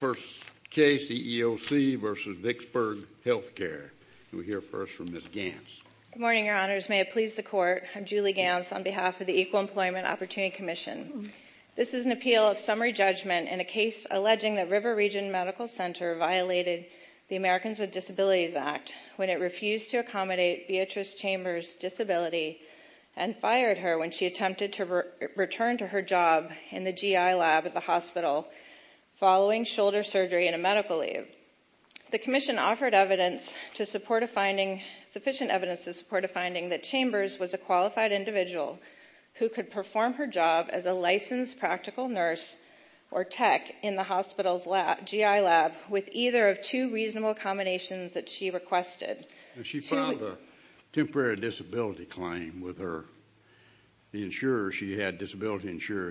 Good morning, Your Honors. May it please the Court, I'm Julie Ganz on behalf of the Equal Employment Opportunity Commission. This is an appeal of summary judgment in a case alleging that River Region Medical Center violated the Americans with Disabilities Act when it refused to accommodate Beatrice Chambers' disability and fired her when she attempted to return to her job in the GI lab at the hospital for shoulder surgery and a medical leave. The Commission offered sufficient evidence to support a finding that Chambers was a qualified individual who could perform her job as a licensed practical nurse or tech in the hospital's GI lab with either of two reasonable combinations that she requested. She filed a temporary disability claim with the disability insurer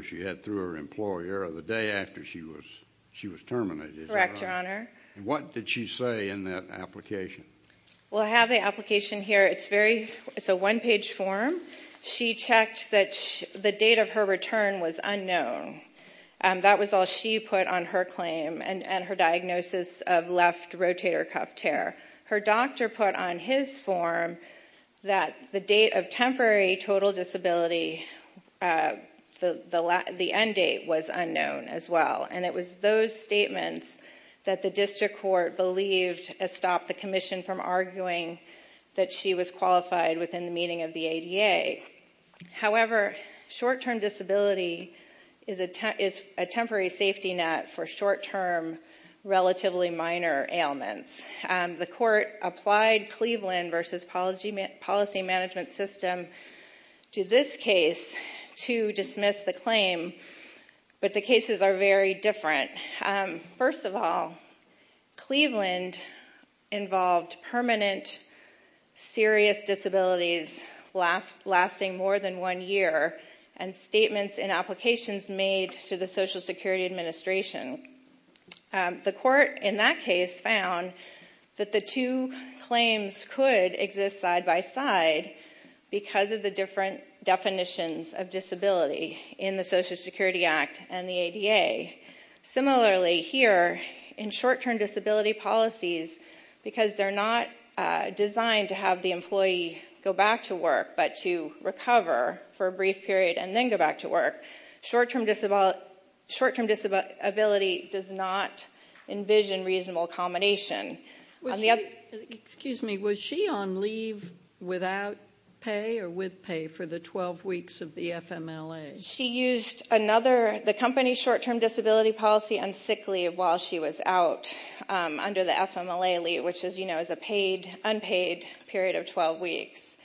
she had through her employer the day after she was terminated. What did she say in that application? Well, I have the application here. It's a one-page form. She checked that the date of her return was unknown. That was all she put on her claim and her diagnosis of left rotator cuff tear. Her doctor put on his form that the date of temporary total disability, the end date, was unknown as well. It was those statements that the District Court believed stopped the Commission from arguing that she was qualified within the meaning of the ADA. However, short-term disability is a temporary safety net for short-term, relatively minor ailments. The Court applied Cleveland v. Policy Management System to this case to dismiss the claim, but the cases are very different. First of all, Cleveland involved permanent, serious disabilities lasting more than one year and statements and applications made to the Social Security Administration. The Court, in that case, found that the two claims could exist side-by-side because of the different definitions of disability in the Social Security Act and the ADA. Similarly, here, in short-term disability policies, because they're not designed to have the employee go back to work, but to recover for a brief period and then go back to work, short-term disability does not envision reasonable combination. Was she on leave without pay or with pay for the 12 weeks of the FMLA? She used the company's short-term disability policy on sick leave while she was out under the FMLA leave, which is a paid, unpaid period of 12 weeks.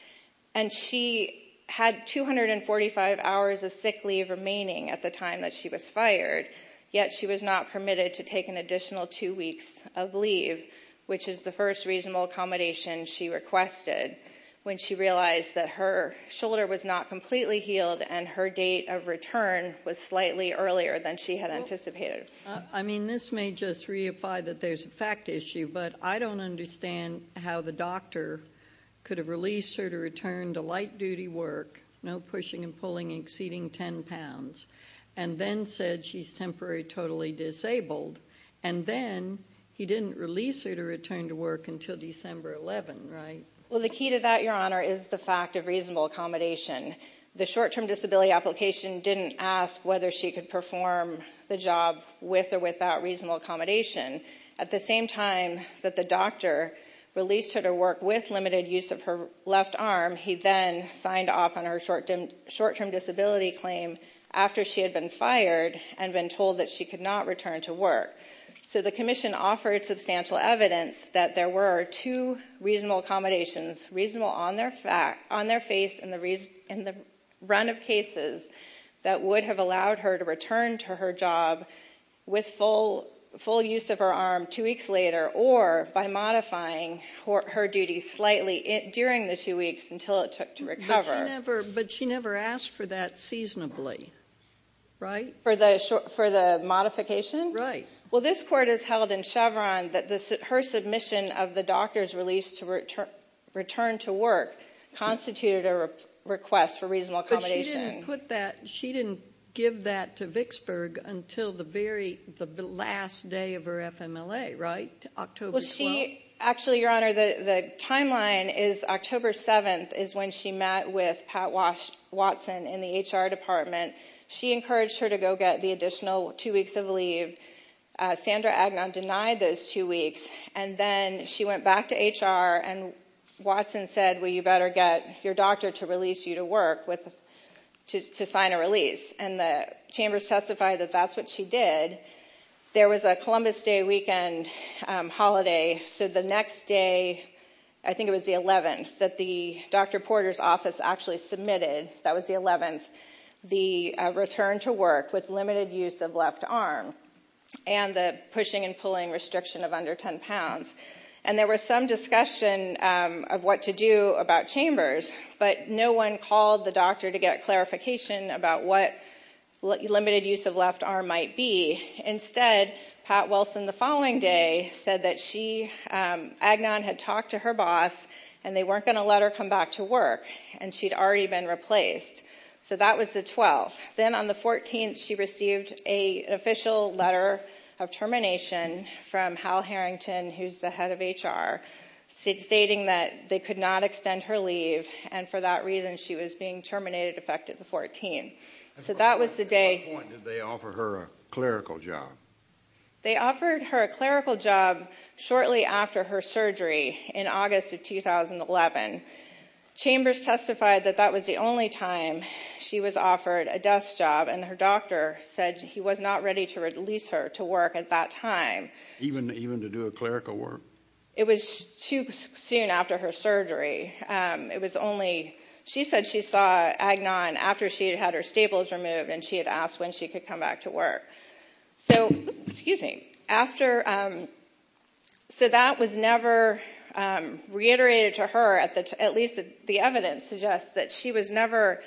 And she had 245 hours of sick leave remaining at the time that she was fired, yet she was not permitted to take an additional two weeks of leave, which is the first reasonable accommodation she requested when she realized that her shoulder was not completely healed and her date of return was slightly earlier than she had anticipated. I mean, this may just reify that there's a fact issue, but I don't understand how the doctor released her to return to light-duty work, no pushing and pulling, exceeding 10 pounds, and then said she's temporarily disabled, and then he didn't release her to return to work until December 11, right? Well, the key to that, Your Honor, is the fact of reasonable accommodation. The short-term disability application didn't ask whether she could perform the job with or without reasonable accommodation. At the same time that the doctor released her to work with limited use of her left arm, he then signed off on her short-term disability claim after she had been fired and been told that she could not return to work. So the commission offered substantial evidence that there were two reasonable accommodations, reasonable on their face in the run of cases, that would have allowed her to return to her job with full use of her arm two weeks later, or by modifying her duty slightly during the two weeks until it took to recover. But she never asked for that seasonably, right? For the modification? Right. Well, this Court has held in Chevron that her submission of the doctor's release to return to work constituted a request for reasonable accommodation. But she didn't put that, she didn't give that to Vicksburg until the very last day of her FMLA, right? October 12th. Well, she, actually, Your Honor, the timeline is October 7th is when she met with Pat Watson in the HR department. She encouraged her to go get the additional two weeks of leave. Sandra Agnon denied those two weeks. And then she went back to HR and Watson said, well, you better get your doctor to release you to work to sign a release. And the chambers testified that that's what she did. There was a Columbus Day weekend holiday, so the next day, I think it was the 11th, that the Dr. Porter's office actually submitted, that was the 11th, the return to work with limited use of left arm and the pushing and pulling restriction of under 10 pounds. And there was some discussion of what to do about chambers, but no one called the doctor to get clarification about what limited use of left arm might be. Instead, Pat Watson the following day said that she, Agnon had talked to her boss and they weren't going to let her come back to work and she'd already been replaced. So that was the 12th. Then on the 14th, she received an official letter of termination from Hal Harrington, who's the head of HR, stating that they could not extend her leave and for that reason she was being terminated effective the 14th. So that was the day. At what point did they offer her a clerical job? They offered her a clerical job shortly after her surgery in August of 2011. Chambers testified that that was the only time she was offered a desk job and her doctor said he was not ready to release her to work at that time. Even to do a clerical work? It was too soon after her surgery. It was only, she said she saw Agnon after she had her staples removed and she had asked when she could come back to work. So, excuse me, after, so that was never reiterated to her, at least the evidence suggests that she was never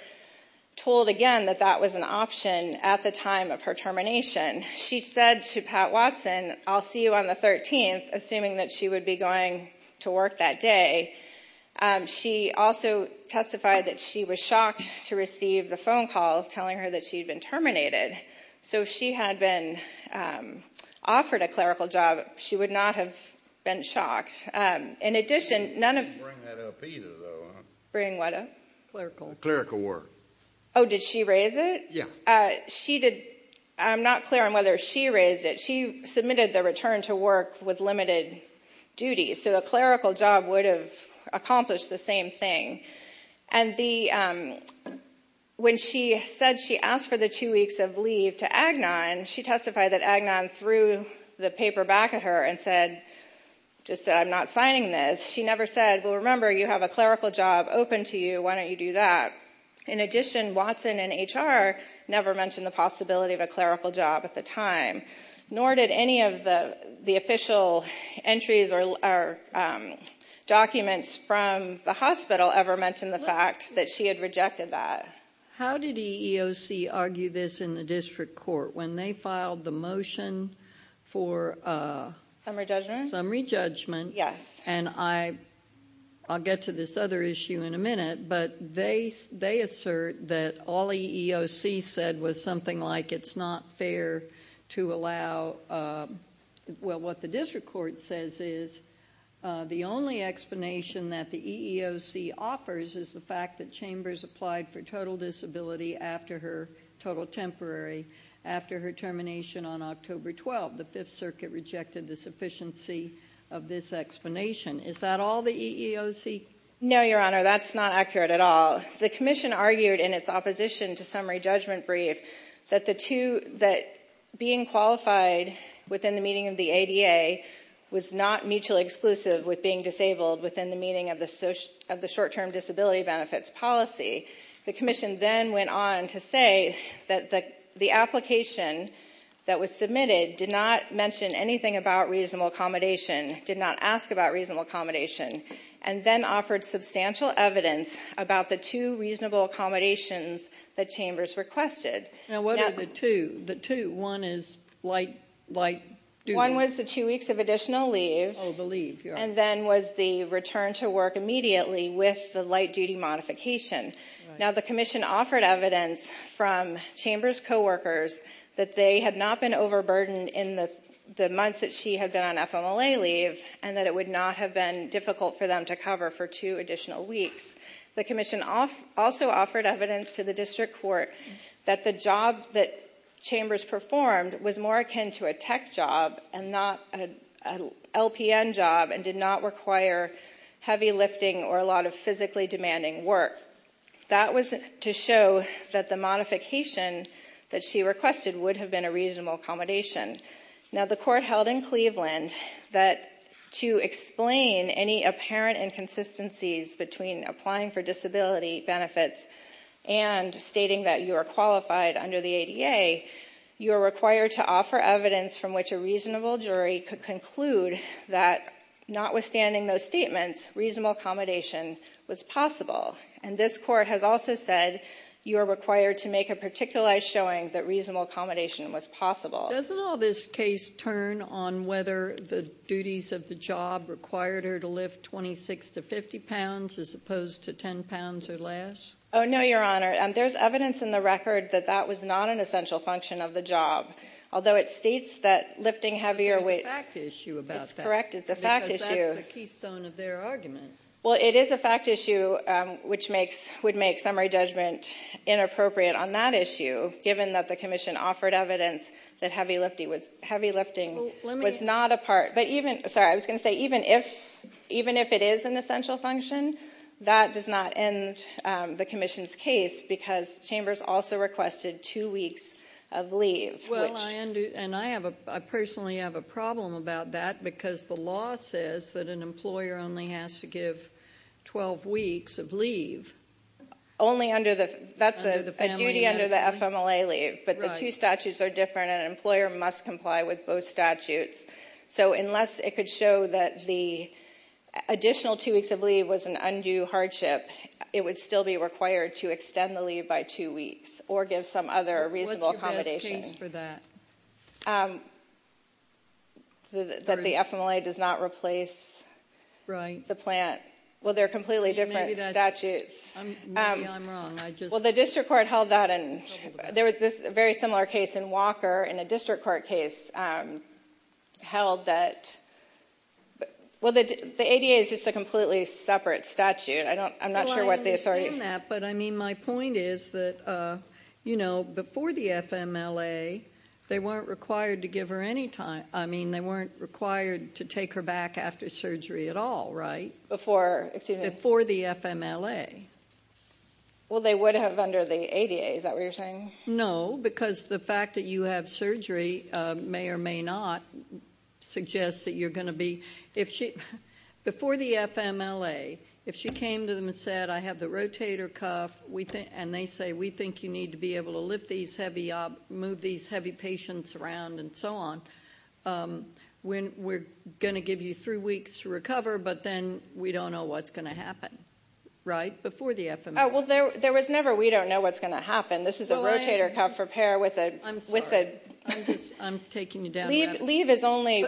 told again that that was an option at the time of her termination. She said to Pat Watson, I'll see you on the 13th, assuming that she would be going to work that day. She also testified that she was shocked to receive the phone call telling her that she'd been terminated. So if she had been offered a clerical job, she would not have been shocked. In addition, none of- She didn't bring that up either though, huh? Bring what up? Clerical. Clerical work. Oh, did she raise it? Yeah. She did, I'm not clear on whether she raised it. She submitted the return to work with limited duties, so a clerical job would have accomplished the same thing. And the, when she said she asked for the two weeks of leave to Agnon, she testified that Agnon threw the paper back at her and said, just said, I'm not signing this. She never said, well, remember, you have a clerical job open to you, why don't you do that? In addition, Watson and HR never mentioned the possibility of a clerical job at the time, nor did any of the official entries or documents from the hospital ever mention the fact that she had rejected that. How did EEOC argue this in the district court when they filed the motion for- Summary judgment? Summary judgment. Yes. And I'll get to this other issue in a minute, but they assert that all EEOC said was something like, it's not fair to allow, well, what the district court says is, the only explanation that the EEOC offers is the fact that Chambers applied for total disability after her total temporary, after her termination on October 12th. The Fifth Circuit rejected the sufficiency of this explanation. Is that all the EEOC? No, Your Honor, that's not accurate at all. The commission argued in its opposition to summary judgment brief that the two, that being qualified within the meaning of the ADA was not mutually exclusive with being disabled within the meaning of the short-term disability benefits policy. The commission then went on to say that the application that was submitted did not mention anything about reasonable accommodation, did not ask about reasonable accommodation, and then offered substantial evidence about the two reasonable accommodations that Chambers requested. Now, what are the two? The two, one is light, light duty? One was the two weeks of additional leave. Oh, the leave, Your Honor. And then was the return to work immediately with the light duty modification. Now, the commission offered evidence from Chambers' coworkers that they had not been overburdened in the months that she had been on FMLA leave and that it would not have been time to cover for two additional weeks. The commission also offered evidence to the district court that the job that Chambers performed was more akin to a tech job and not an LPN job and did not require heavy lifting or a lot of physically demanding work. That was to show that the modification that she requested would have been a reasonable accommodation. Now, the court held in Cleveland that to explain any apparent inconsistencies between applying for disability benefits and stating that you are qualified under the ADA, you are required to offer evidence from which a reasonable jury could conclude that notwithstanding those statements, reasonable accommodation was possible. And this court has also said you are required to make a particularized showing that reasonable accommodation was possible. Doesn't all this case turn on whether the duties of the job required her to lift 26 to 50 pounds as opposed to 10 pounds or less? Oh, no, Your Honor. There is evidence in the record that that was not an essential function of the job, although it states that lifting heavier weights... But there's a fact issue about that. That's correct. It's a fact issue. Because that's the keystone of their argument. Well, it is a fact issue which would make summary judgment inappropriate on that issue given that the Commission offered evidence that heavy lifting was not a part... Sorry, I was going to say even if it is an essential function, that does not end the Commission's case because Chambers also requested two weeks of leave. And I personally have a problem about that because the law says that an employer only has to give 12 weeks of leave. Only under the... That's a duty under the FMLA leave, but the two statutes are different and an employer must comply with both statutes. So unless it could show that the additional two weeks of leave was an undue hardship, it would still be required to extend the leave by two weeks or give some other reasonable accommodation. What's your best case for that? That the FMLA does not replace the plant. Well, they're completely different statutes. Maybe I'm wrong. I just... Well, the district court held that and there was a very similar case in Walker in a district court case held that... Well, the ADA is just a completely separate statute. I'm not sure what the authority... Well, I understand that, but I mean my point is that before the FMLA, they weren't required to give her any time. I mean, they weren't required to take her back after surgery at all, right? Before the FMLA. Well, they would have under the ADA, is that what you're saying? No, because the fact that you have surgery may or may not suggest that you're going to be... If she... Before the FMLA, if she came to them and said, I have the rotator cuff and they say, we think you need to be able to move these heavy patients around and so on, we're going to give you three weeks to recover, but then we don't know what's going to happen, right? Before the FMLA. Oh, well, there was never we don't know what's going to happen. This is a rotator cuff repair with a... I'm sorry. I'm just... I'm taking you down the rabbit hole. Leave is only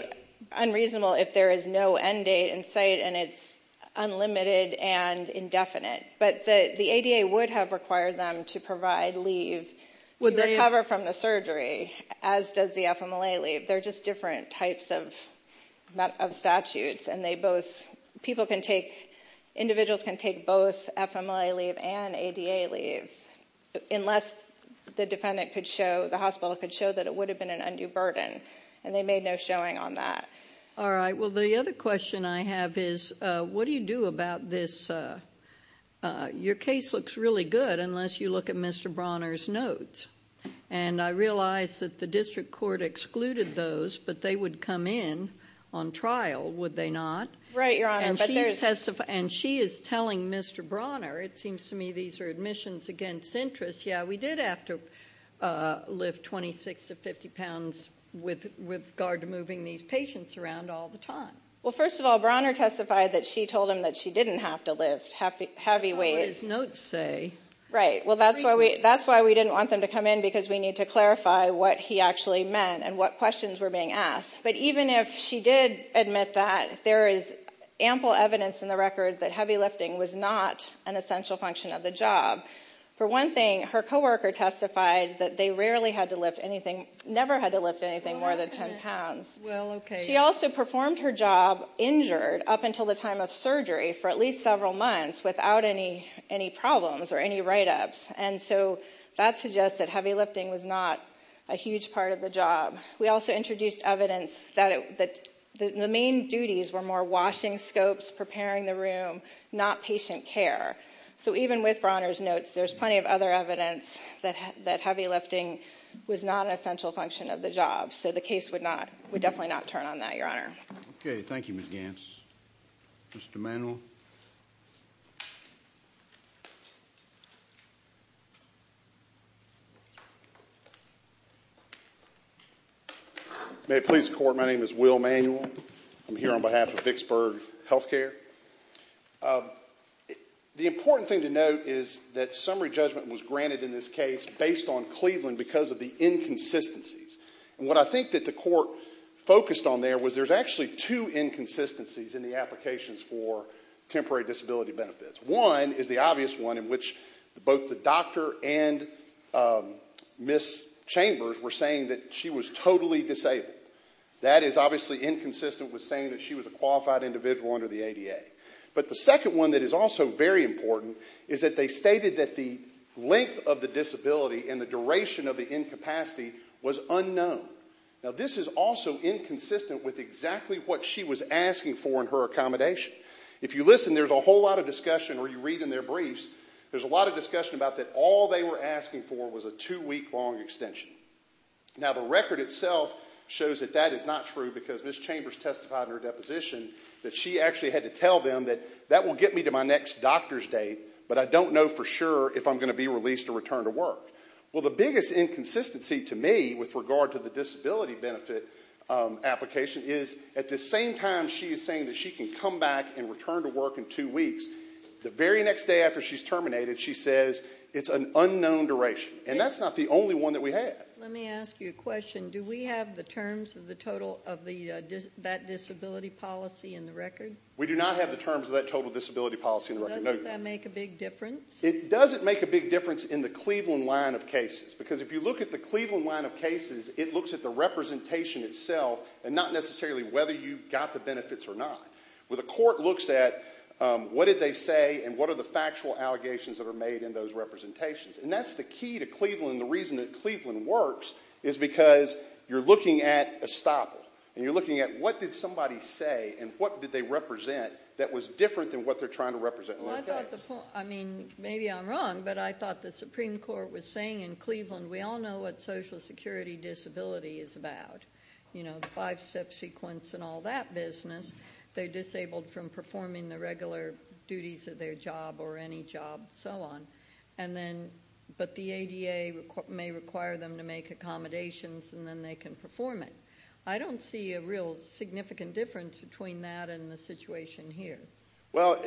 unreasonable if there is no end date in sight and it's unlimited and indefinite, but the ADA would have required them to provide leave to recover from the surgery, as does the FMLA leave. They're just different types of statutes and they both... People can take... Individuals can take both FMLA leave and ADA leave unless the defendant could show, the hospital could show that it would have been an undue burden and they made no showing on that. All right. Well, the other question I have is, what do you do about this? Your case looks really good unless you look at Mr. Bronner's notes and I realize that the district court excluded those, but they would come in on trial, would they not? Right, Your Honor. And she's testifying... And she is telling Mr. Bronner, it seems to me these are admissions against interest. Yeah, we did have to lift 26 to 50 pounds with regard to moving these patients around all the time. Well, first of all, Bronner testified that she told him that she didn't have to lift heavy weights. That's not what his notes say. Right. Well, that's why we didn't want them to come in because we need to clarify what he actually meant and what questions were being asked. But even if she did admit that, there is ample evidence in the record that heavy lifting was not an essential function of the job. For one thing, her coworker testified that they rarely had to lift anything, never had to lift anything more than 10 pounds. She also performed her job injured up until the time of surgery for at least several months without any problems or any write-ups. And so that suggests that heavy lifting was not a huge part of the job. We also introduced evidence that the main duties were more washing scopes, preparing the room, not patient care. So even with Bronner's notes, there's plenty of other evidence that heavy lifting was not an essential function of the job. So the case would definitely not turn on that, Your Honor. Okay. Thank you, Ms. Gantz. Mr. Manuel? May it please the Court, my name is Will Manuel. I'm here on behalf of Vicksburg Healthcare. The important thing to note is that summary judgment was granted in this case based on Cleveland because of the inconsistencies. And what I think that the Court focused on there was there's actually two inconsistencies in the applications for temporary disability benefits. One is the obvious one in which both the doctor and Ms. Chambers were saying that she was totally disabled. That is obviously inconsistent with saying that she was a qualified individual under the ADA. But the second one that is also very important is that they stated that the length of the disability and the duration of the incapacity was unknown. Now this is also inconsistent with exactly what she was asking for in her accommodation. If you listen, there's a whole lot of discussion or you read in their briefs, there's a lot of discussion about that all they were asking for was a two-week long extension. Now the record itself shows that that is not true because Ms. Chambers testified in her deposition that she actually had to tell them that that will get me to my next doctor's date but I don't know for sure if I'm going to be released or returned to work. Well the biggest inconsistency to me with regard to the disability benefit application is at the same time she is saying that she can come back and return to work in two weeks, the very next day after she's terminated, she says it's an unknown duration. And that's not the only one that we have. Let me ask you a question. Do we have the terms of the total of that disability policy in the record? We do not have the terms of that total disability policy in the record. Does that make a big difference? It doesn't make a big difference in the Cleveland line of cases because if you look at the Cleveland line of cases, it looks at the representation itself and not necessarily whether you got the benefits or not. Where the court looks at what did they say and what are the factual allegations that are made in those representations. And that's the key to Cleveland and the reason that Cleveland works is because you're looking at estoppel and you're looking at what did somebody say and what did they represent that was different than what they're trying to represent in their case. Well, I thought the point, I mean, maybe I'm wrong, but I thought the Supreme Court was saying in Cleveland, we all know what social security disability is about, you know, five step sequence and all that business. They're disabled from performing the regular duties of their job or any job, so on. And then, but the ADA may require them to make accommodations and then they can perform it. I don't see a real significant difference between that and the situation here. Well,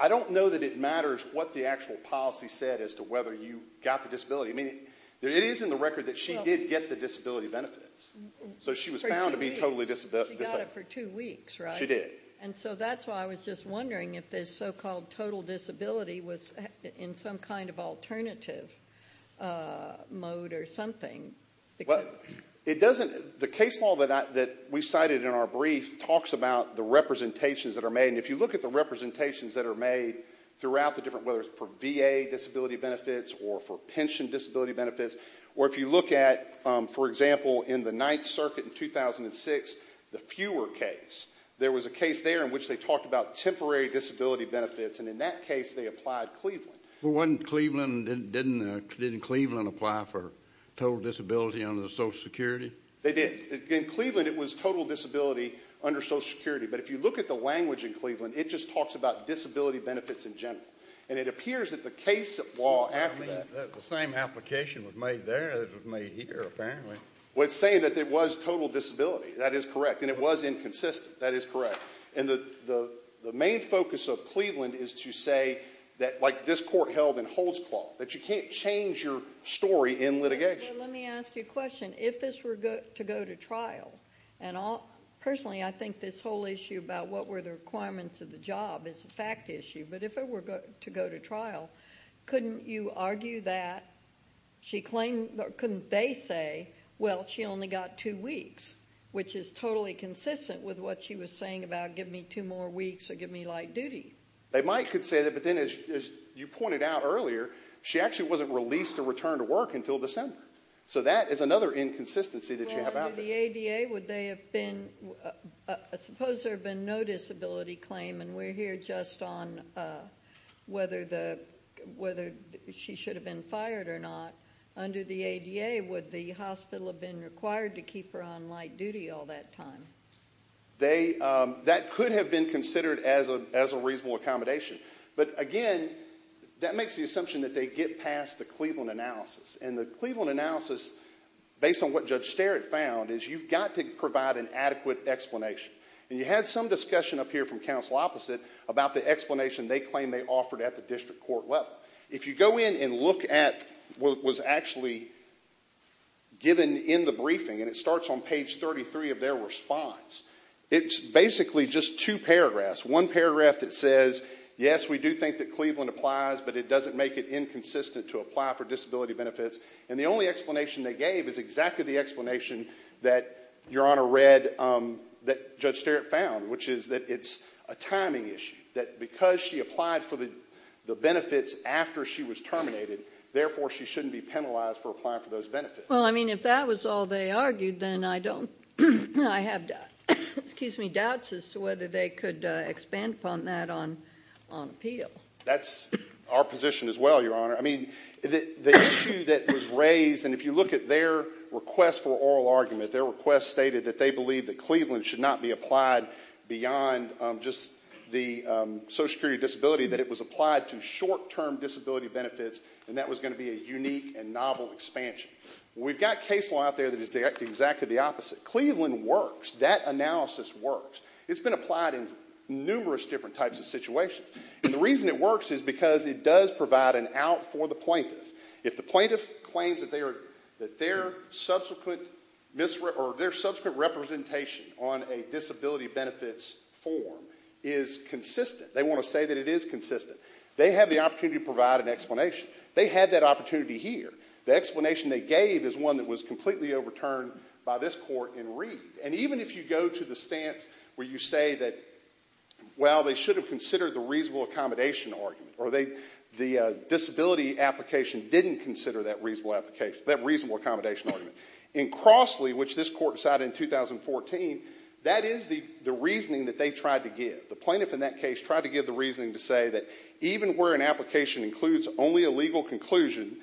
I don't know that it matters what the actual policy said as to whether you got the disability. I mean, it is in the record that she did get the disability benefits. So she was found to be totally disabled. She got it for two weeks, right? She did. And so that's why I was just wondering if this so-called total disability was in some kind of alternative mode or something. It doesn't, the case law that we cited in our brief talks about the representations that are made. And if you look at the representations that are made throughout the different, whether it's for VA disability benefits or for pension disability benefits, or if you look at, for example, in the Ninth Circuit in 2006, the fewer case, there was a case there in which they talked about temporary disability benefits. And in that case, they applied Cleveland. Well, wasn't Cleveland, didn't Cleveland apply for total disability under the social security? They did. In Cleveland, it was total disability under social security. But if you look at the language in Cleveland, it just talks about disability benefits in general. And it appears that the case law after that... I mean, the same application was made there as it was made here, apparently. Well, it's saying that there was total disability. That is correct. And it was inconsistent. That is correct. And the main focus of Cleveland is to say that, like this court held in Holds Claw, that you can't change your story in litigation. Let me ask you a question. If this were to go to trial, and personally, I think this whole issue about what were the requirements of the job is a fact issue, but if it were to go to trial, couldn't you argue that she claimed, couldn't they say, well, she only got two weeks, which is totally consistent with what she was saying about give me two more weeks or give me light duty? They might could say that, but then as you pointed out earlier, she actually wasn't released or returned to work until December. So that is another inconsistency that you have out there. Well, under the ADA, would they have been... Suppose there had been no disability claim, and we're here just on whether she should have been fired or not. Under the ADA, would the hospital have been required to keep her on light duty all that time? That could have been considered as a reasonable accommodation, but again, that makes the assumption that they get past the Cleveland analysis. The Cleveland analysis, based on what Judge Sterritt found, is you've got to provide an adequate explanation, and you had some discussion up here from counsel opposite about the explanation they claim they offered at the district court level. If you go in and look at what was actually given in the briefing, and it starts on page 33 of their response, it's basically just two paragraphs. One paragraph that says, yes, we do think that Cleveland applies, but it doesn't make it inconsistent to apply for disability benefits. And the only explanation they gave is exactly the explanation that Your Honor read that Judge Sterritt found, which is that it's a timing issue. That because she applied for the benefits after she was terminated, therefore she shouldn't be penalized for applying for those benefits. Well, I mean, if that was all they argued, then I have doubts as to whether they could expand upon that on appeal. That's our position as well, Your Honor. I mean, the issue that was raised, and if you look at their request for oral argument, their request stated that they believe that Cleveland should not be applied beyond just the social security disability, that it was applied to short-term disability benefits, and that was going to be a unique and novel expansion. We've got case law out there that is exactly the opposite. Cleveland works. That analysis works. It's been applied in numerous different types of situations. And the reason it works is because it does provide an out for the plaintiff. If the plaintiff claims that their subsequent representation on a disability benefits form is consistent, they want to say that it is consistent, they have the opportunity to provide an explanation. They had that opportunity here. The explanation they gave is one that was completely overturned by this court in Reed. And even if you go to the stance where you say that, well, they should have considered the reasonable accommodation argument, or the disability application didn't consider that reasonable accommodation argument, in Crossley, which this court decided in 2014, that is the reasoning that they tried to give. The plaintiff in that case tried to give the reasoning to say that even where an application includes only a legal conclusion,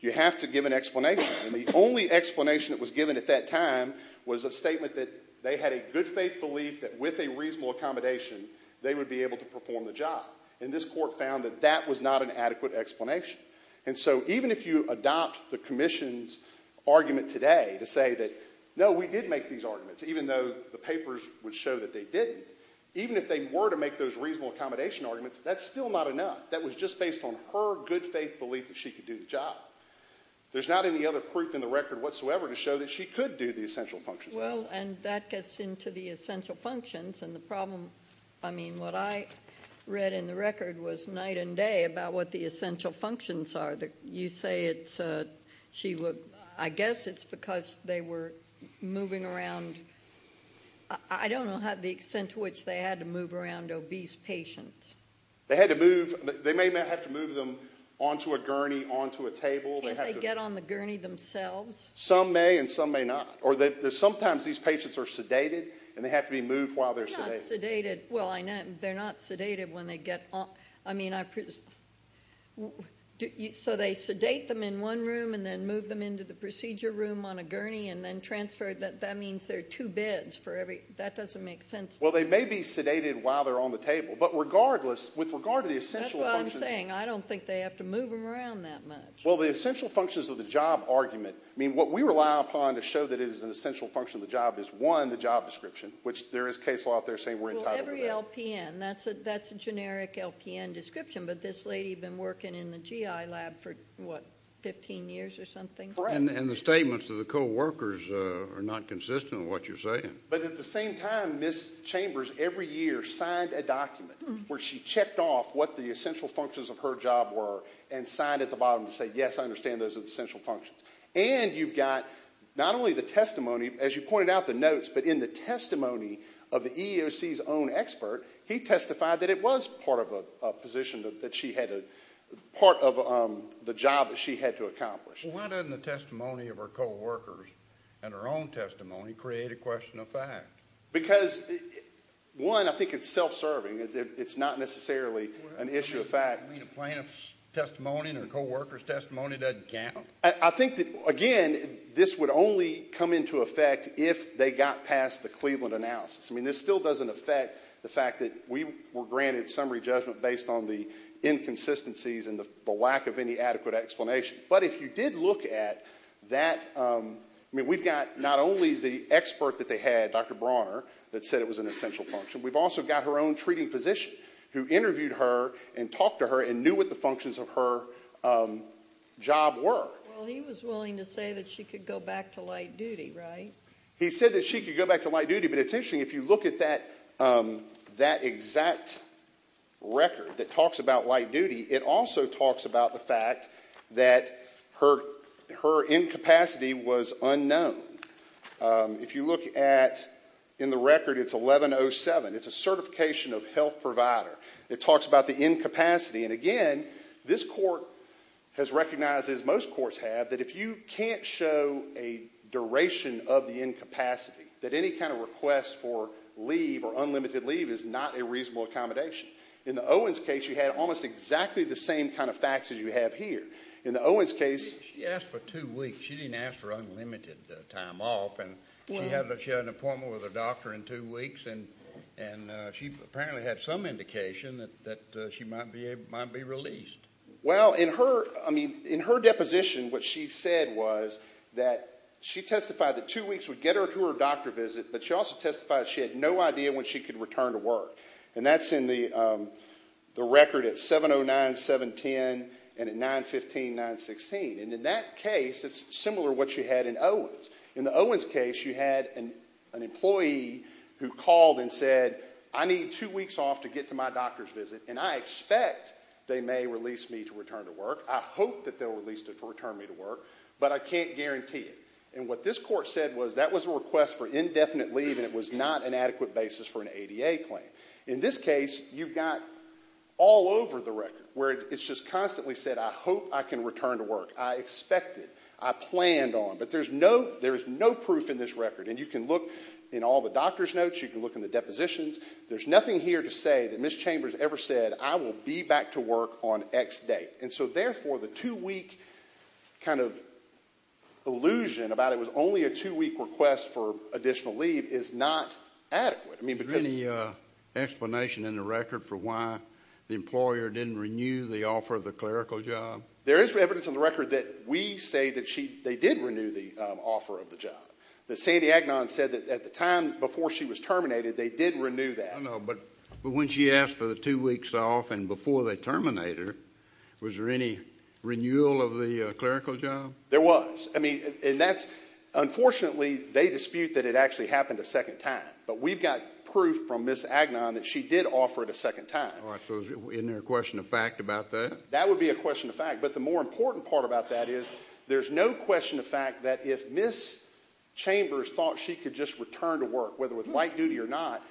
you have to give an explanation. And the only explanation that was given at that time was a statement that they had a good faith belief that with a reasonable accommodation, they would be able to perform the job. And this court found that that was not an adequate explanation. And so even if you adopt the commission's argument today to say that, no, we did make these arguments, even though the papers would show that they didn't, even if they were to make those reasonable accommodation arguments, that's still not enough. That was just based on her good faith belief that she could do the job. There's not any other proof in the record whatsoever to show that she could do the essential functions. Well, and that gets into the essential functions. And the problem, I mean, what I read in the record was night and day about what the essential functions are. You say it's, I guess it's because they were moving around, I don't know the extent to which they had to move around obese patients. They had to move, they may have to move them onto a gurney, onto a table. Can't they get on the gurney themselves? Some may and some may not. Or sometimes these patients are sedated and they have to be moved while they're sedated. They're not sedated. Well, I know, they're not sedated when they get, I mean, so they sedate them in one room and then move them into the procedure room on a gurney and then transfer, that means there are two beds for every, that doesn't make sense. Well, they may be sedated while they're on the table, but regardless, with regard to the essential functions. That's what I'm saying. I don't think they have to move them around that much. Well, the essential functions of the job argument, I mean, what we rely upon to show that it is an essential function of the job is, one, the job description, which there is a case law out there saying we're entitled to that. Well, every LPN, that's a generic LPN description, but this lady had been working in the GI lab for, what, 15 years or something? Correct. And the statements of the co-workers are not consistent with what you're saying. But at the same time, Ms. Chambers every year signed a document where she checked off what the essential functions of her job were and signed at the bottom to say, yes, I understand those are the essential functions. And you've got not only the testimony, as you pointed out, the notes, but in the testimony of the EEOC's own expert, he testified that it was part of a position that she had, part of the job that she had to accomplish. Well, why doesn't the testimony of her co-workers and her own testimony create a question of fact? Because, one, I think it's self-serving. It's not necessarily an issue of fact. You mean a plaintiff's testimony and a co-worker's testimony doesn't count? I think that, again, this would only come into effect if they got past the Cleveland analysis. I mean, this still doesn't affect the fact that we were granted summary judgment based on the inconsistencies and the lack of any adequate explanation. But if you did look at that, I mean, we've got not only the expert that they had, Dr. Brawner, that said it was an essential function. We've also got her own treating physician who interviewed her and talked to her and made sure that her job worked. Well, he was willing to say that she could go back to light duty, right? He said that she could go back to light duty, but it's interesting, if you look at that exact record that talks about light duty, it also talks about the fact that her incapacity was unknown. If you look at, in the record, it's 1107. It's a certification of health provider. It talks about the incapacity. And again, this court has recognized, as most courts have, that if you can't show a duration of the incapacity, that any kind of request for leave or unlimited leave is not a reasonable accommodation. In the Owens case, you had almost exactly the same kind of facts as you have here. In the Owens case... She asked for two weeks. She didn't ask for unlimited time off. And she had an appointment with a doctor in two weeks, and she apparently had some indication that she might be released. Well, in her deposition, what she said was that she testified that two weeks would get her to her doctor visit, but she also testified she had no idea when she could return to work. And that's in the record at 709.710 and at 915.916. And in that case, it's similar to what you had in Owens. In the Owens case, you had an employee who called and said, I need two weeks off to get to my doctor's visit, and I expect they may release me to return to work. I hope that they'll release me to return to work, but I can't guarantee it. And what this court said was that was a request for indefinite leave, and it was not an adequate basis for an ADA claim. In this case, you've got all over the record where it's just constantly said, I hope I can return to work. I expect it. I planned on it. But there's no proof in this record, and you can look in all the doctor's notes. You can look in the depositions. There's nothing here to say that Ms. Chambers ever said, I will be back to work on X date. And so, therefore, the two-week kind of illusion about it was only a two-week request for additional leave is not adequate. I mean, because... Is there any explanation in the record for why the employer didn't renew the offer of the clerical job? There is evidence in the record that we say that they did renew the offer of the job. That Sandy Agnon said that at the time before she was terminated, they did renew that. I know, but when she asked for the two weeks off and before they terminate her, was there any renewal of the clerical job? There was. I mean, and that's, unfortunately, they dispute that it actually happened a second time. But we've got proof from Ms. Agnon that she did offer it a second time. All right. So isn't there a question of fact about that? That would be a question of fact. But the more important part about that is there's no question of fact that if Ms. Chambers thought she could just return to work, whether with light duty or not,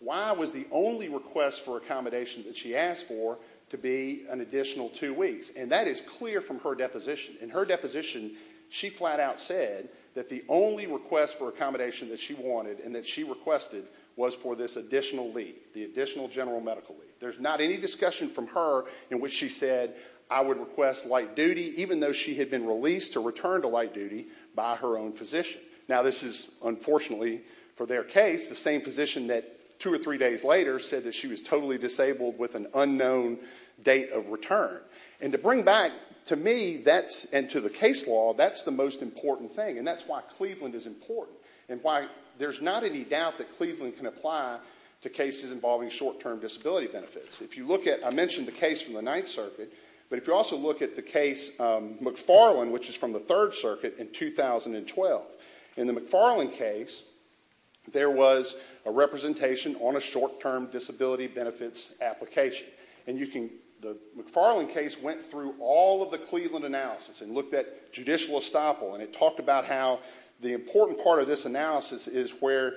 why was the only request for accommodation that she asked for to be an additional two weeks? And that is clear from her deposition. In her deposition, she flat out said that the only request for accommodation that she wanted and that she requested was for this additional leave, the additional general medical leave. There's not any discussion from her in which she said, I would request light duty, even though she had been released to return to light duty by her own physician. Now this is, unfortunately, for their case, the same physician that two or three days later said that she was totally disabled with an unknown date of return. And to bring back, to me, that's, and to the case law, that's the most important thing. And that's why Cleveland is important and why there's not any doubt that Cleveland can benefits. If you look at, I mentioned the case from the Ninth Circuit, but if you also look at the case McFarland, which is from the Third Circuit in 2012, in the McFarland case, there was a representation on a short-term disability benefits application. And you can, the McFarland case went through all of the Cleveland analysis and looked at judicial estoppel and it talked about how the important part of this analysis is where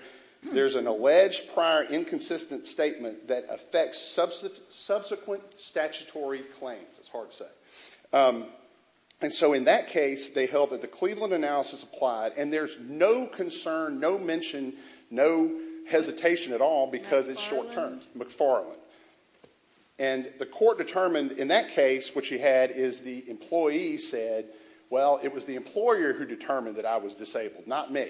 there's an alleged prior inconsistent statement that affects subsequent statutory claims. It's hard to say. And so in that case, they held that the Cleveland analysis applied and there's no concern, no mention, no hesitation at all because it's short-term. McFarland. And the court determined in that case what she had is the employee said, well, it was the employer who determined that I was disabled, not me.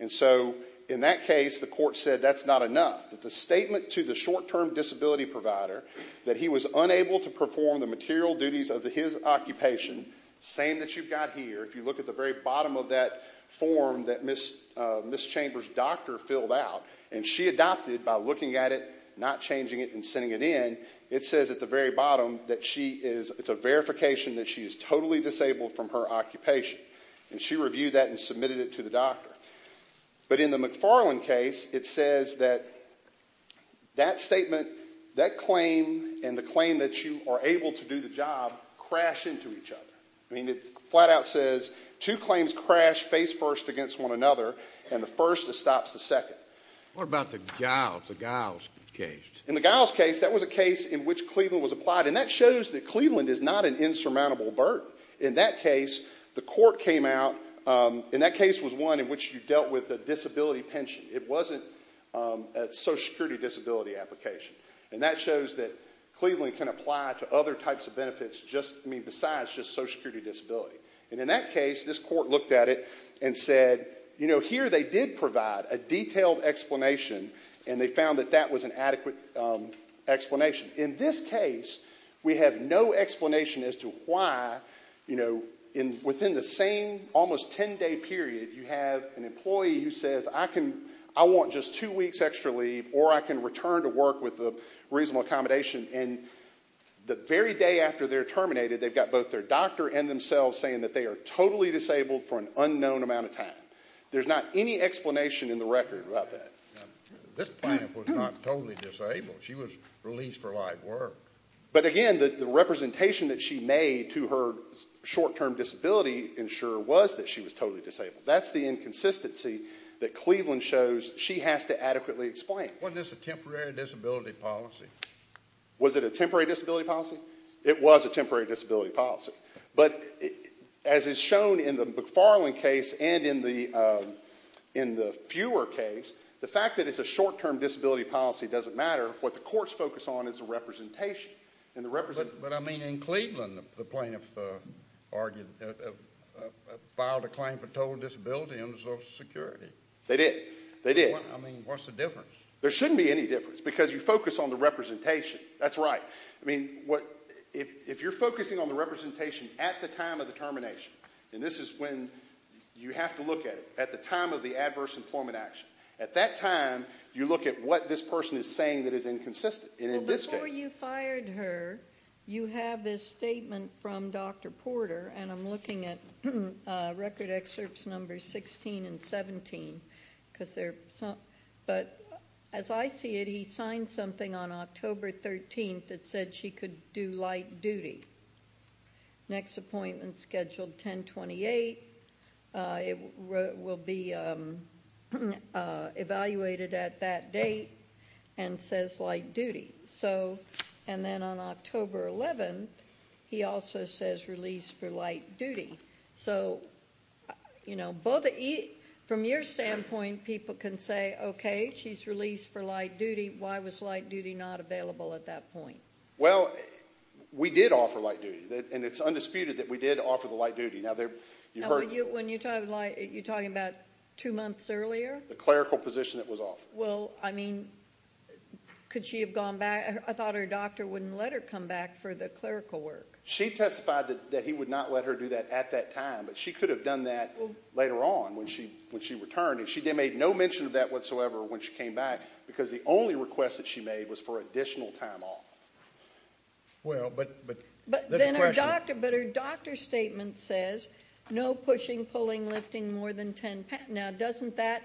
And so in that case, the court said that's not enough. The statement to the short-term disability provider that he was unable to perform the material duties of his occupation, same that you've got here, if you look at the very bottom of that form that Ms. Chambers' doctor filled out and she adopted by looking at it, not changing it and sending it in, it says at the very bottom that she is, it's a verification that she is totally disabled from her occupation. And she reviewed that and submitted it to the doctor. But in the McFarland case, it says that that statement, that claim and the claim that you are able to do the job crash into each other. I mean, it flat out says two claims crash face first against one another and the first that stops the second. What about the Giles, the Giles case? In the Giles case, that was a case in which Cleveland was applied and that shows that Cleveland is not an insurmountable burden. In that case, the court came out, and that case was one in which you dealt with a disability pension. It wasn't a social security disability application. And that shows that Cleveland can apply to other types of benefits besides just social security disability. And in that case, this court looked at it and said, you know, here they did provide a detailed explanation and they found that that was an adequate explanation. In this case, we have no explanation as to why, you know, within the same almost 10-day period, you have an employee who says, I want just two weeks extra leave or I can return to work with a reasonable accommodation. And the very day after they're terminated, they've got both their doctor and themselves saying that they are totally disabled for an unknown amount of time. There's not any explanation in the record about that. This client was not totally disabled. She was released for live work. But again, the representation that she made to her short-term disability insurer was that she was totally disabled. That's the inconsistency that Cleveland shows she has to adequately explain. Wasn't this a temporary disability policy? Was it a temporary disability policy? It was a temporary disability policy. But as is shown in the McFarland case and in the fewer case, the fact that it's a short-term disability policy doesn't matter. What the courts focus on is the representation. But I mean, in Cleveland, the plaintiff argued, filed a claim for total disability under Social Security. They did. They did. I mean, what's the difference? There shouldn't be any difference because you focus on the representation. That's right. I mean, if you're focusing on the representation at the time of the termination, and this is when you have to look at it, at the time of the adverse employment action, at that time, you look at what this person is saying that is inconsistent. And in this case... Well, before you fired her, you have this statement from Dr. Porter, and I'm looking at record excerpts number 16 and 17, because they're... But as I see it, he signed something on October 13th that said she could do light duty. Next appointment scheduled 10-28. It will be evaluated at that date and says light duty. And then on October 11th, he also says release for light duty. So from your standpoint, people can say, okay, she's released for light duty. Why was light duty not available at that point? Well, we did offer light duty, and it's undisputed that we did offer the light duty. Now, you heard... Now, when you're talking about two months earlier? The clerical position that was offered. Well, I mean, could she have gone back? I thought her doctor wouldn't let her come back for the clerical work. She testified that he would not let her do that at that time, but she could have done that later on when she returned, and she made no mention of that whatsoever when she came back because the only request that she made was for additional time off. Well, but... But then her doctor statement says no pushing, pulling, lifting more than 10 pounds. Now, doesn't that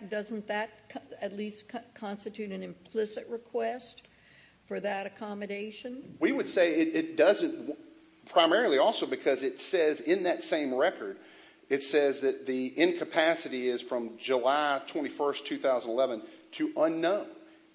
at least constitute an implicit request for that accommodation? We would say it doesn't primarily also because it says in that same record, it says that the incapacity is from July 21st, 2011 to unknown.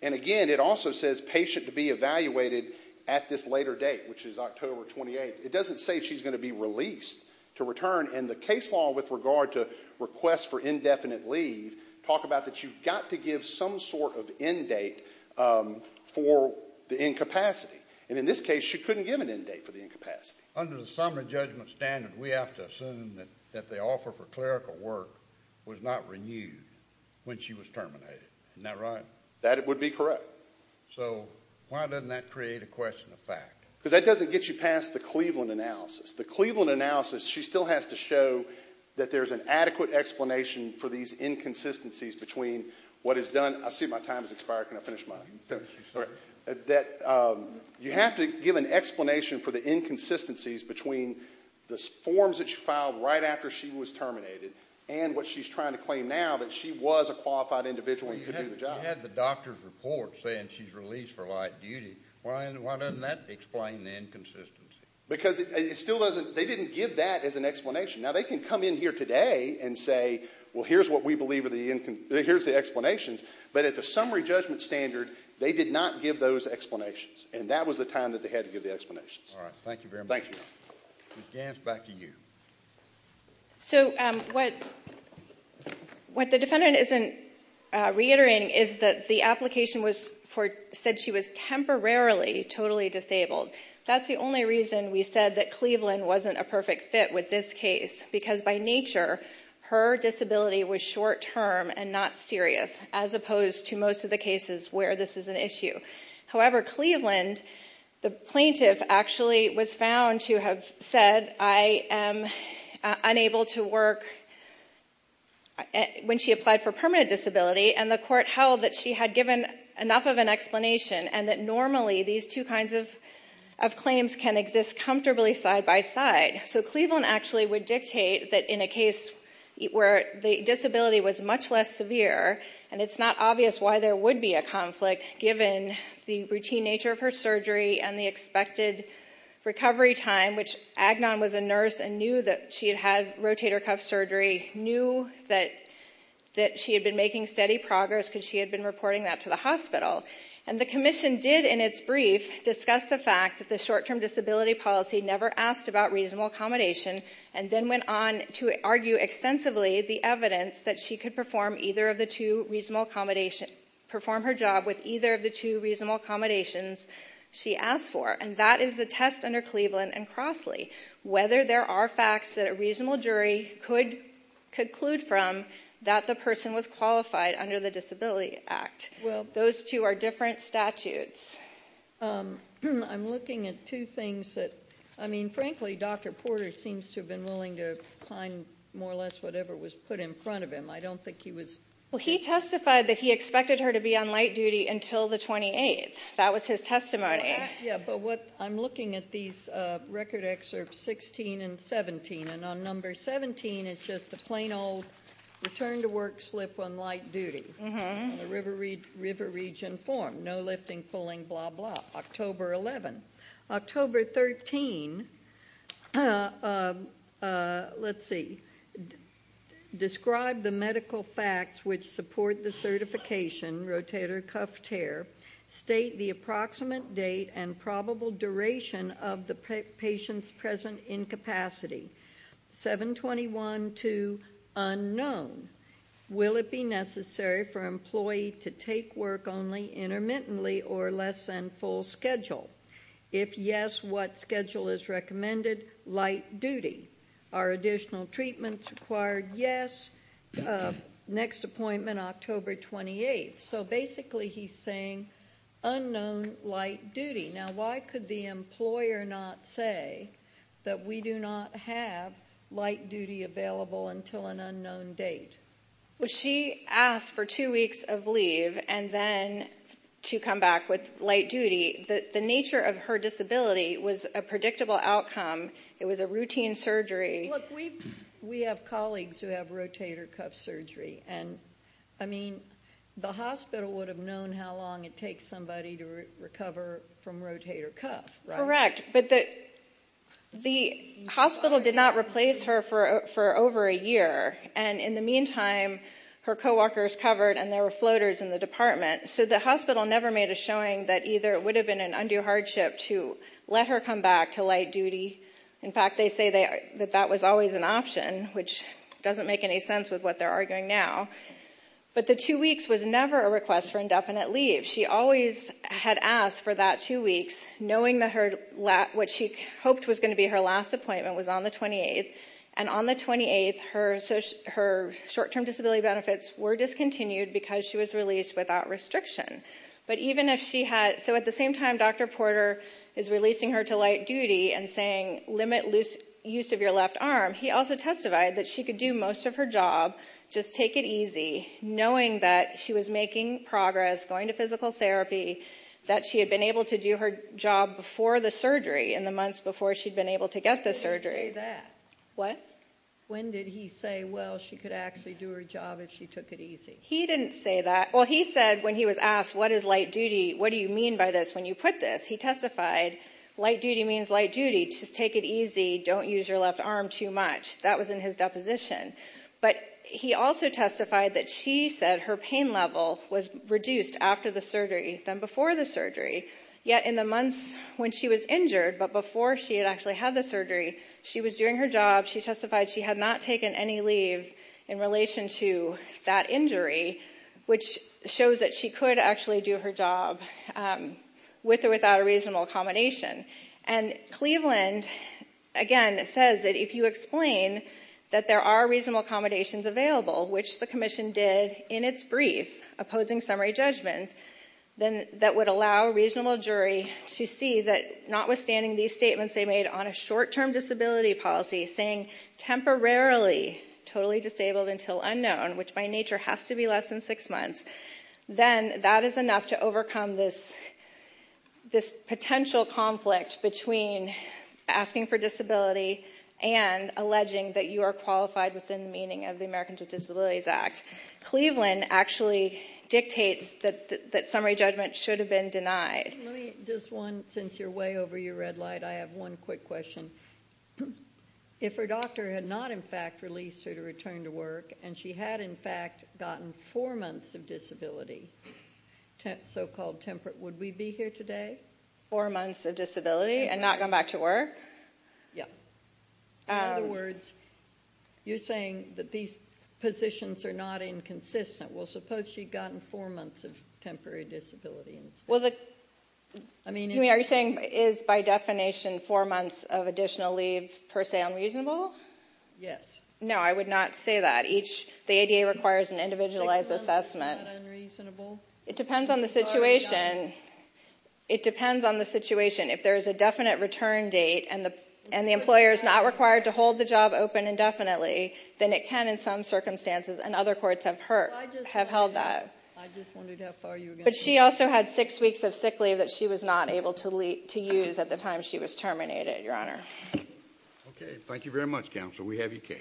And again, it also says patient to be evaluated at this later date, which is October 28th. It doesn't say she's going to be released to return, and the case law with regard to request for indefinite leave talk about that you've got to give some sort of end date for the incapacity. And in this case, she couldn't give an end date for the incapacity. Under the summary judgment standard, we have to assume that the offer for clerical work was not renewed when she was terminated, isn't that right? That would be correct. So, why doesn't that create a question of fact? Because that doesn't get you past the Cleveland analysis. The Cleveland analysis, she still has to show that there's an adequate explanation for these inconsistencies between what is done. I see my time has expired, can I finish mine? That you have to give an explanation for the inconsistencies between the forms that she filed right after she was terminated and what she's trying to claim now that she was a qualified individual and could do the job. If she had the doctor's report saying she's released for light duty, why doesn't that explain the inconsistency? Because it still doesn't, they didn't give that as an explanation. Now, they can come in here today and say, well, here's what we believe are the, here's the explanations, but at the summary judgment standard, they did not give those explanations, and that was the time that they had to give the explanations. All right. Thank you very much. Thank you. Ms. Gants, back to you. So, what the defendant isn't reiterating is that the application said she was temporarily totally disabled. That's the only reason we said that Cleveland wasn't a perfect fit with this case, because by nature, her disability was short term and not serious, as opposed to most of the cases where this is an issue. However, Cleveland, the plaintiff, actually was found to have said, I am unable to work when she applied for permanent disability, and the court held that she had given enough of an explanation and that normally, these two kinds of claims can exist comfortably side by side. So, Cleveland actually would dictate that in a case where the disability was much less severe, and it's not obvious why there would be a conflict, given the routine nature of her surgery and the expected recovery time, which Agnon was a nurse and knew that she had had rotator cuff surgery, knew that she had been making steady progress because she had been reporting that to the hospital. And the commission did, in its brief, discuss the fact that the short term disability policy never asked about reasonable accommodation, and then went on to argue extensively the other of the two reasonable accommodations, perform her job with either of the two reasonable accommodations she asked for, and that is the test under Cleveland and Crossley. Whether there are facts that a reasonable jury could conclude from that the person was qualified under the Disability Act. Those two are different statutes. I'm looking at two things that, I mean, frankly, Dr. Porter seems to have been willing to sign more or less whatever was put in front of him. I don't think he was... Well, he testified that he expected her to be on light duty until the 28th. That was his testimony. Yeah, but what, I'm looking at these record excerpts 16 and 17, and on number 17, it's just a plain old return to work slip on light duty, in the river region form. No lifting, pulling, blah, blah. October 11. October 13, let's see, describe the medical facts which support the certification, rotator cuff tear, state the approximate date and probable duration of the patient's present incapacity, 7-21-2 unknown, will it be necessary for employee to take work only intermittently or less than full schedule? If yes, what schedule is recommended? Light duty. Are additional treatments required? Yes. Next appointment October 28th. So basically he's saying unknown light duty. Now, why could the employer not say that we do not have light duty available until an unknown date? Well, she asked for two weeks of leave and then to come back with light duty. The nature of her disability was a predictable outcome. It was a routine surgery. Look, we have colleagues who have rotator cuff surgery, and I mean, the hospital would have known how long it takes somebody to recover from rotator cuff, right? Correct. But the hospital did not replace her for over a year, and in the meantime, her co-workers covered and there were floaters in the department, so the hospital never made a showing that either it would have been an undue hardship to let her come back to light duty. In fact, they say that that was always an option, which doesn't make any sense with what they're arguing now. But the two weeks was never a request for indefinite leave. She always had asked for that two weeks, knowing that what she hoped was going to be her last appointment was on the 28th, and on the 28th, her short-term disability benefits were discontinued because she was released without restriction. But even if she had... So at the same time Dr. Porter is releasing her to light duty and saying limit use of your left arm, he also testified that she could do most of her job, just take it easy, knowing that she was making progress, going to physical therapy, that she had been able to do her job before the surgery, in the months before she'd been able to get the surgery. He didn't say that. What? When did he say, well, she could actually do her job if she took it easy? He didn't say that. Well, he said when he was asked, what is light duty? What do you mean by this when you put this? He testified, light duty means light duty, just take it easy, don't use your left arm too much. That was in his deposition. But he also testified that she said her pain level was reduced after the surgery than before the surgery, yet in the months when she was injured, but before she had actually had the surgery, she was doing her job. She testified she had not taken any leave in relation to that injury, which shows that she could actually do her job with or without a reasonable accommodation. And Cleveland, again, says that if you explain that there are reasonable accommodations available, which the commission did in its brief opposing summary judgment, then that would allow a reasonable jury to see that notwithstanding these statements they made on a short-term disability policy saying temporarily totally disabled until unknown, which by nature has to be less than six months, then that is enough to overcome this potential conflict between asking for disability and alleging that you are qualified within the meaning of the Americans with Disabilities Act. Cleveland actually dictates that summary judgment should have been denied. Let me, just one, since you're way over your red light, I have one quick question. If her doctor had not, in fact, released her to return to work, and she had, in fact, gotten four months of disability, so-called temperate, would we be here today? Four months of disability and not gone back to work? Yeah. In other words, you're saying that these positions are not inconsistent. Well, suppose she'd gotten four months of temporary disability instead. Well, are you saying is, by definition, four months of additional leave per se unreasonable? Yes. No, I would not say that. The ADA requires an individualized assessment. It depends on the situation. It depends on the situation. If there is a definite return date and the employer is not required to hold the job open indefinitely, then it can, in some circumstances, and other courts have held that. I just wondered how far you were going to go. But she also had six weeks of sick leave that she was not able to use at the time she was terminated, Your Honor. Okay. Thank you very much, Counsel. We have your case.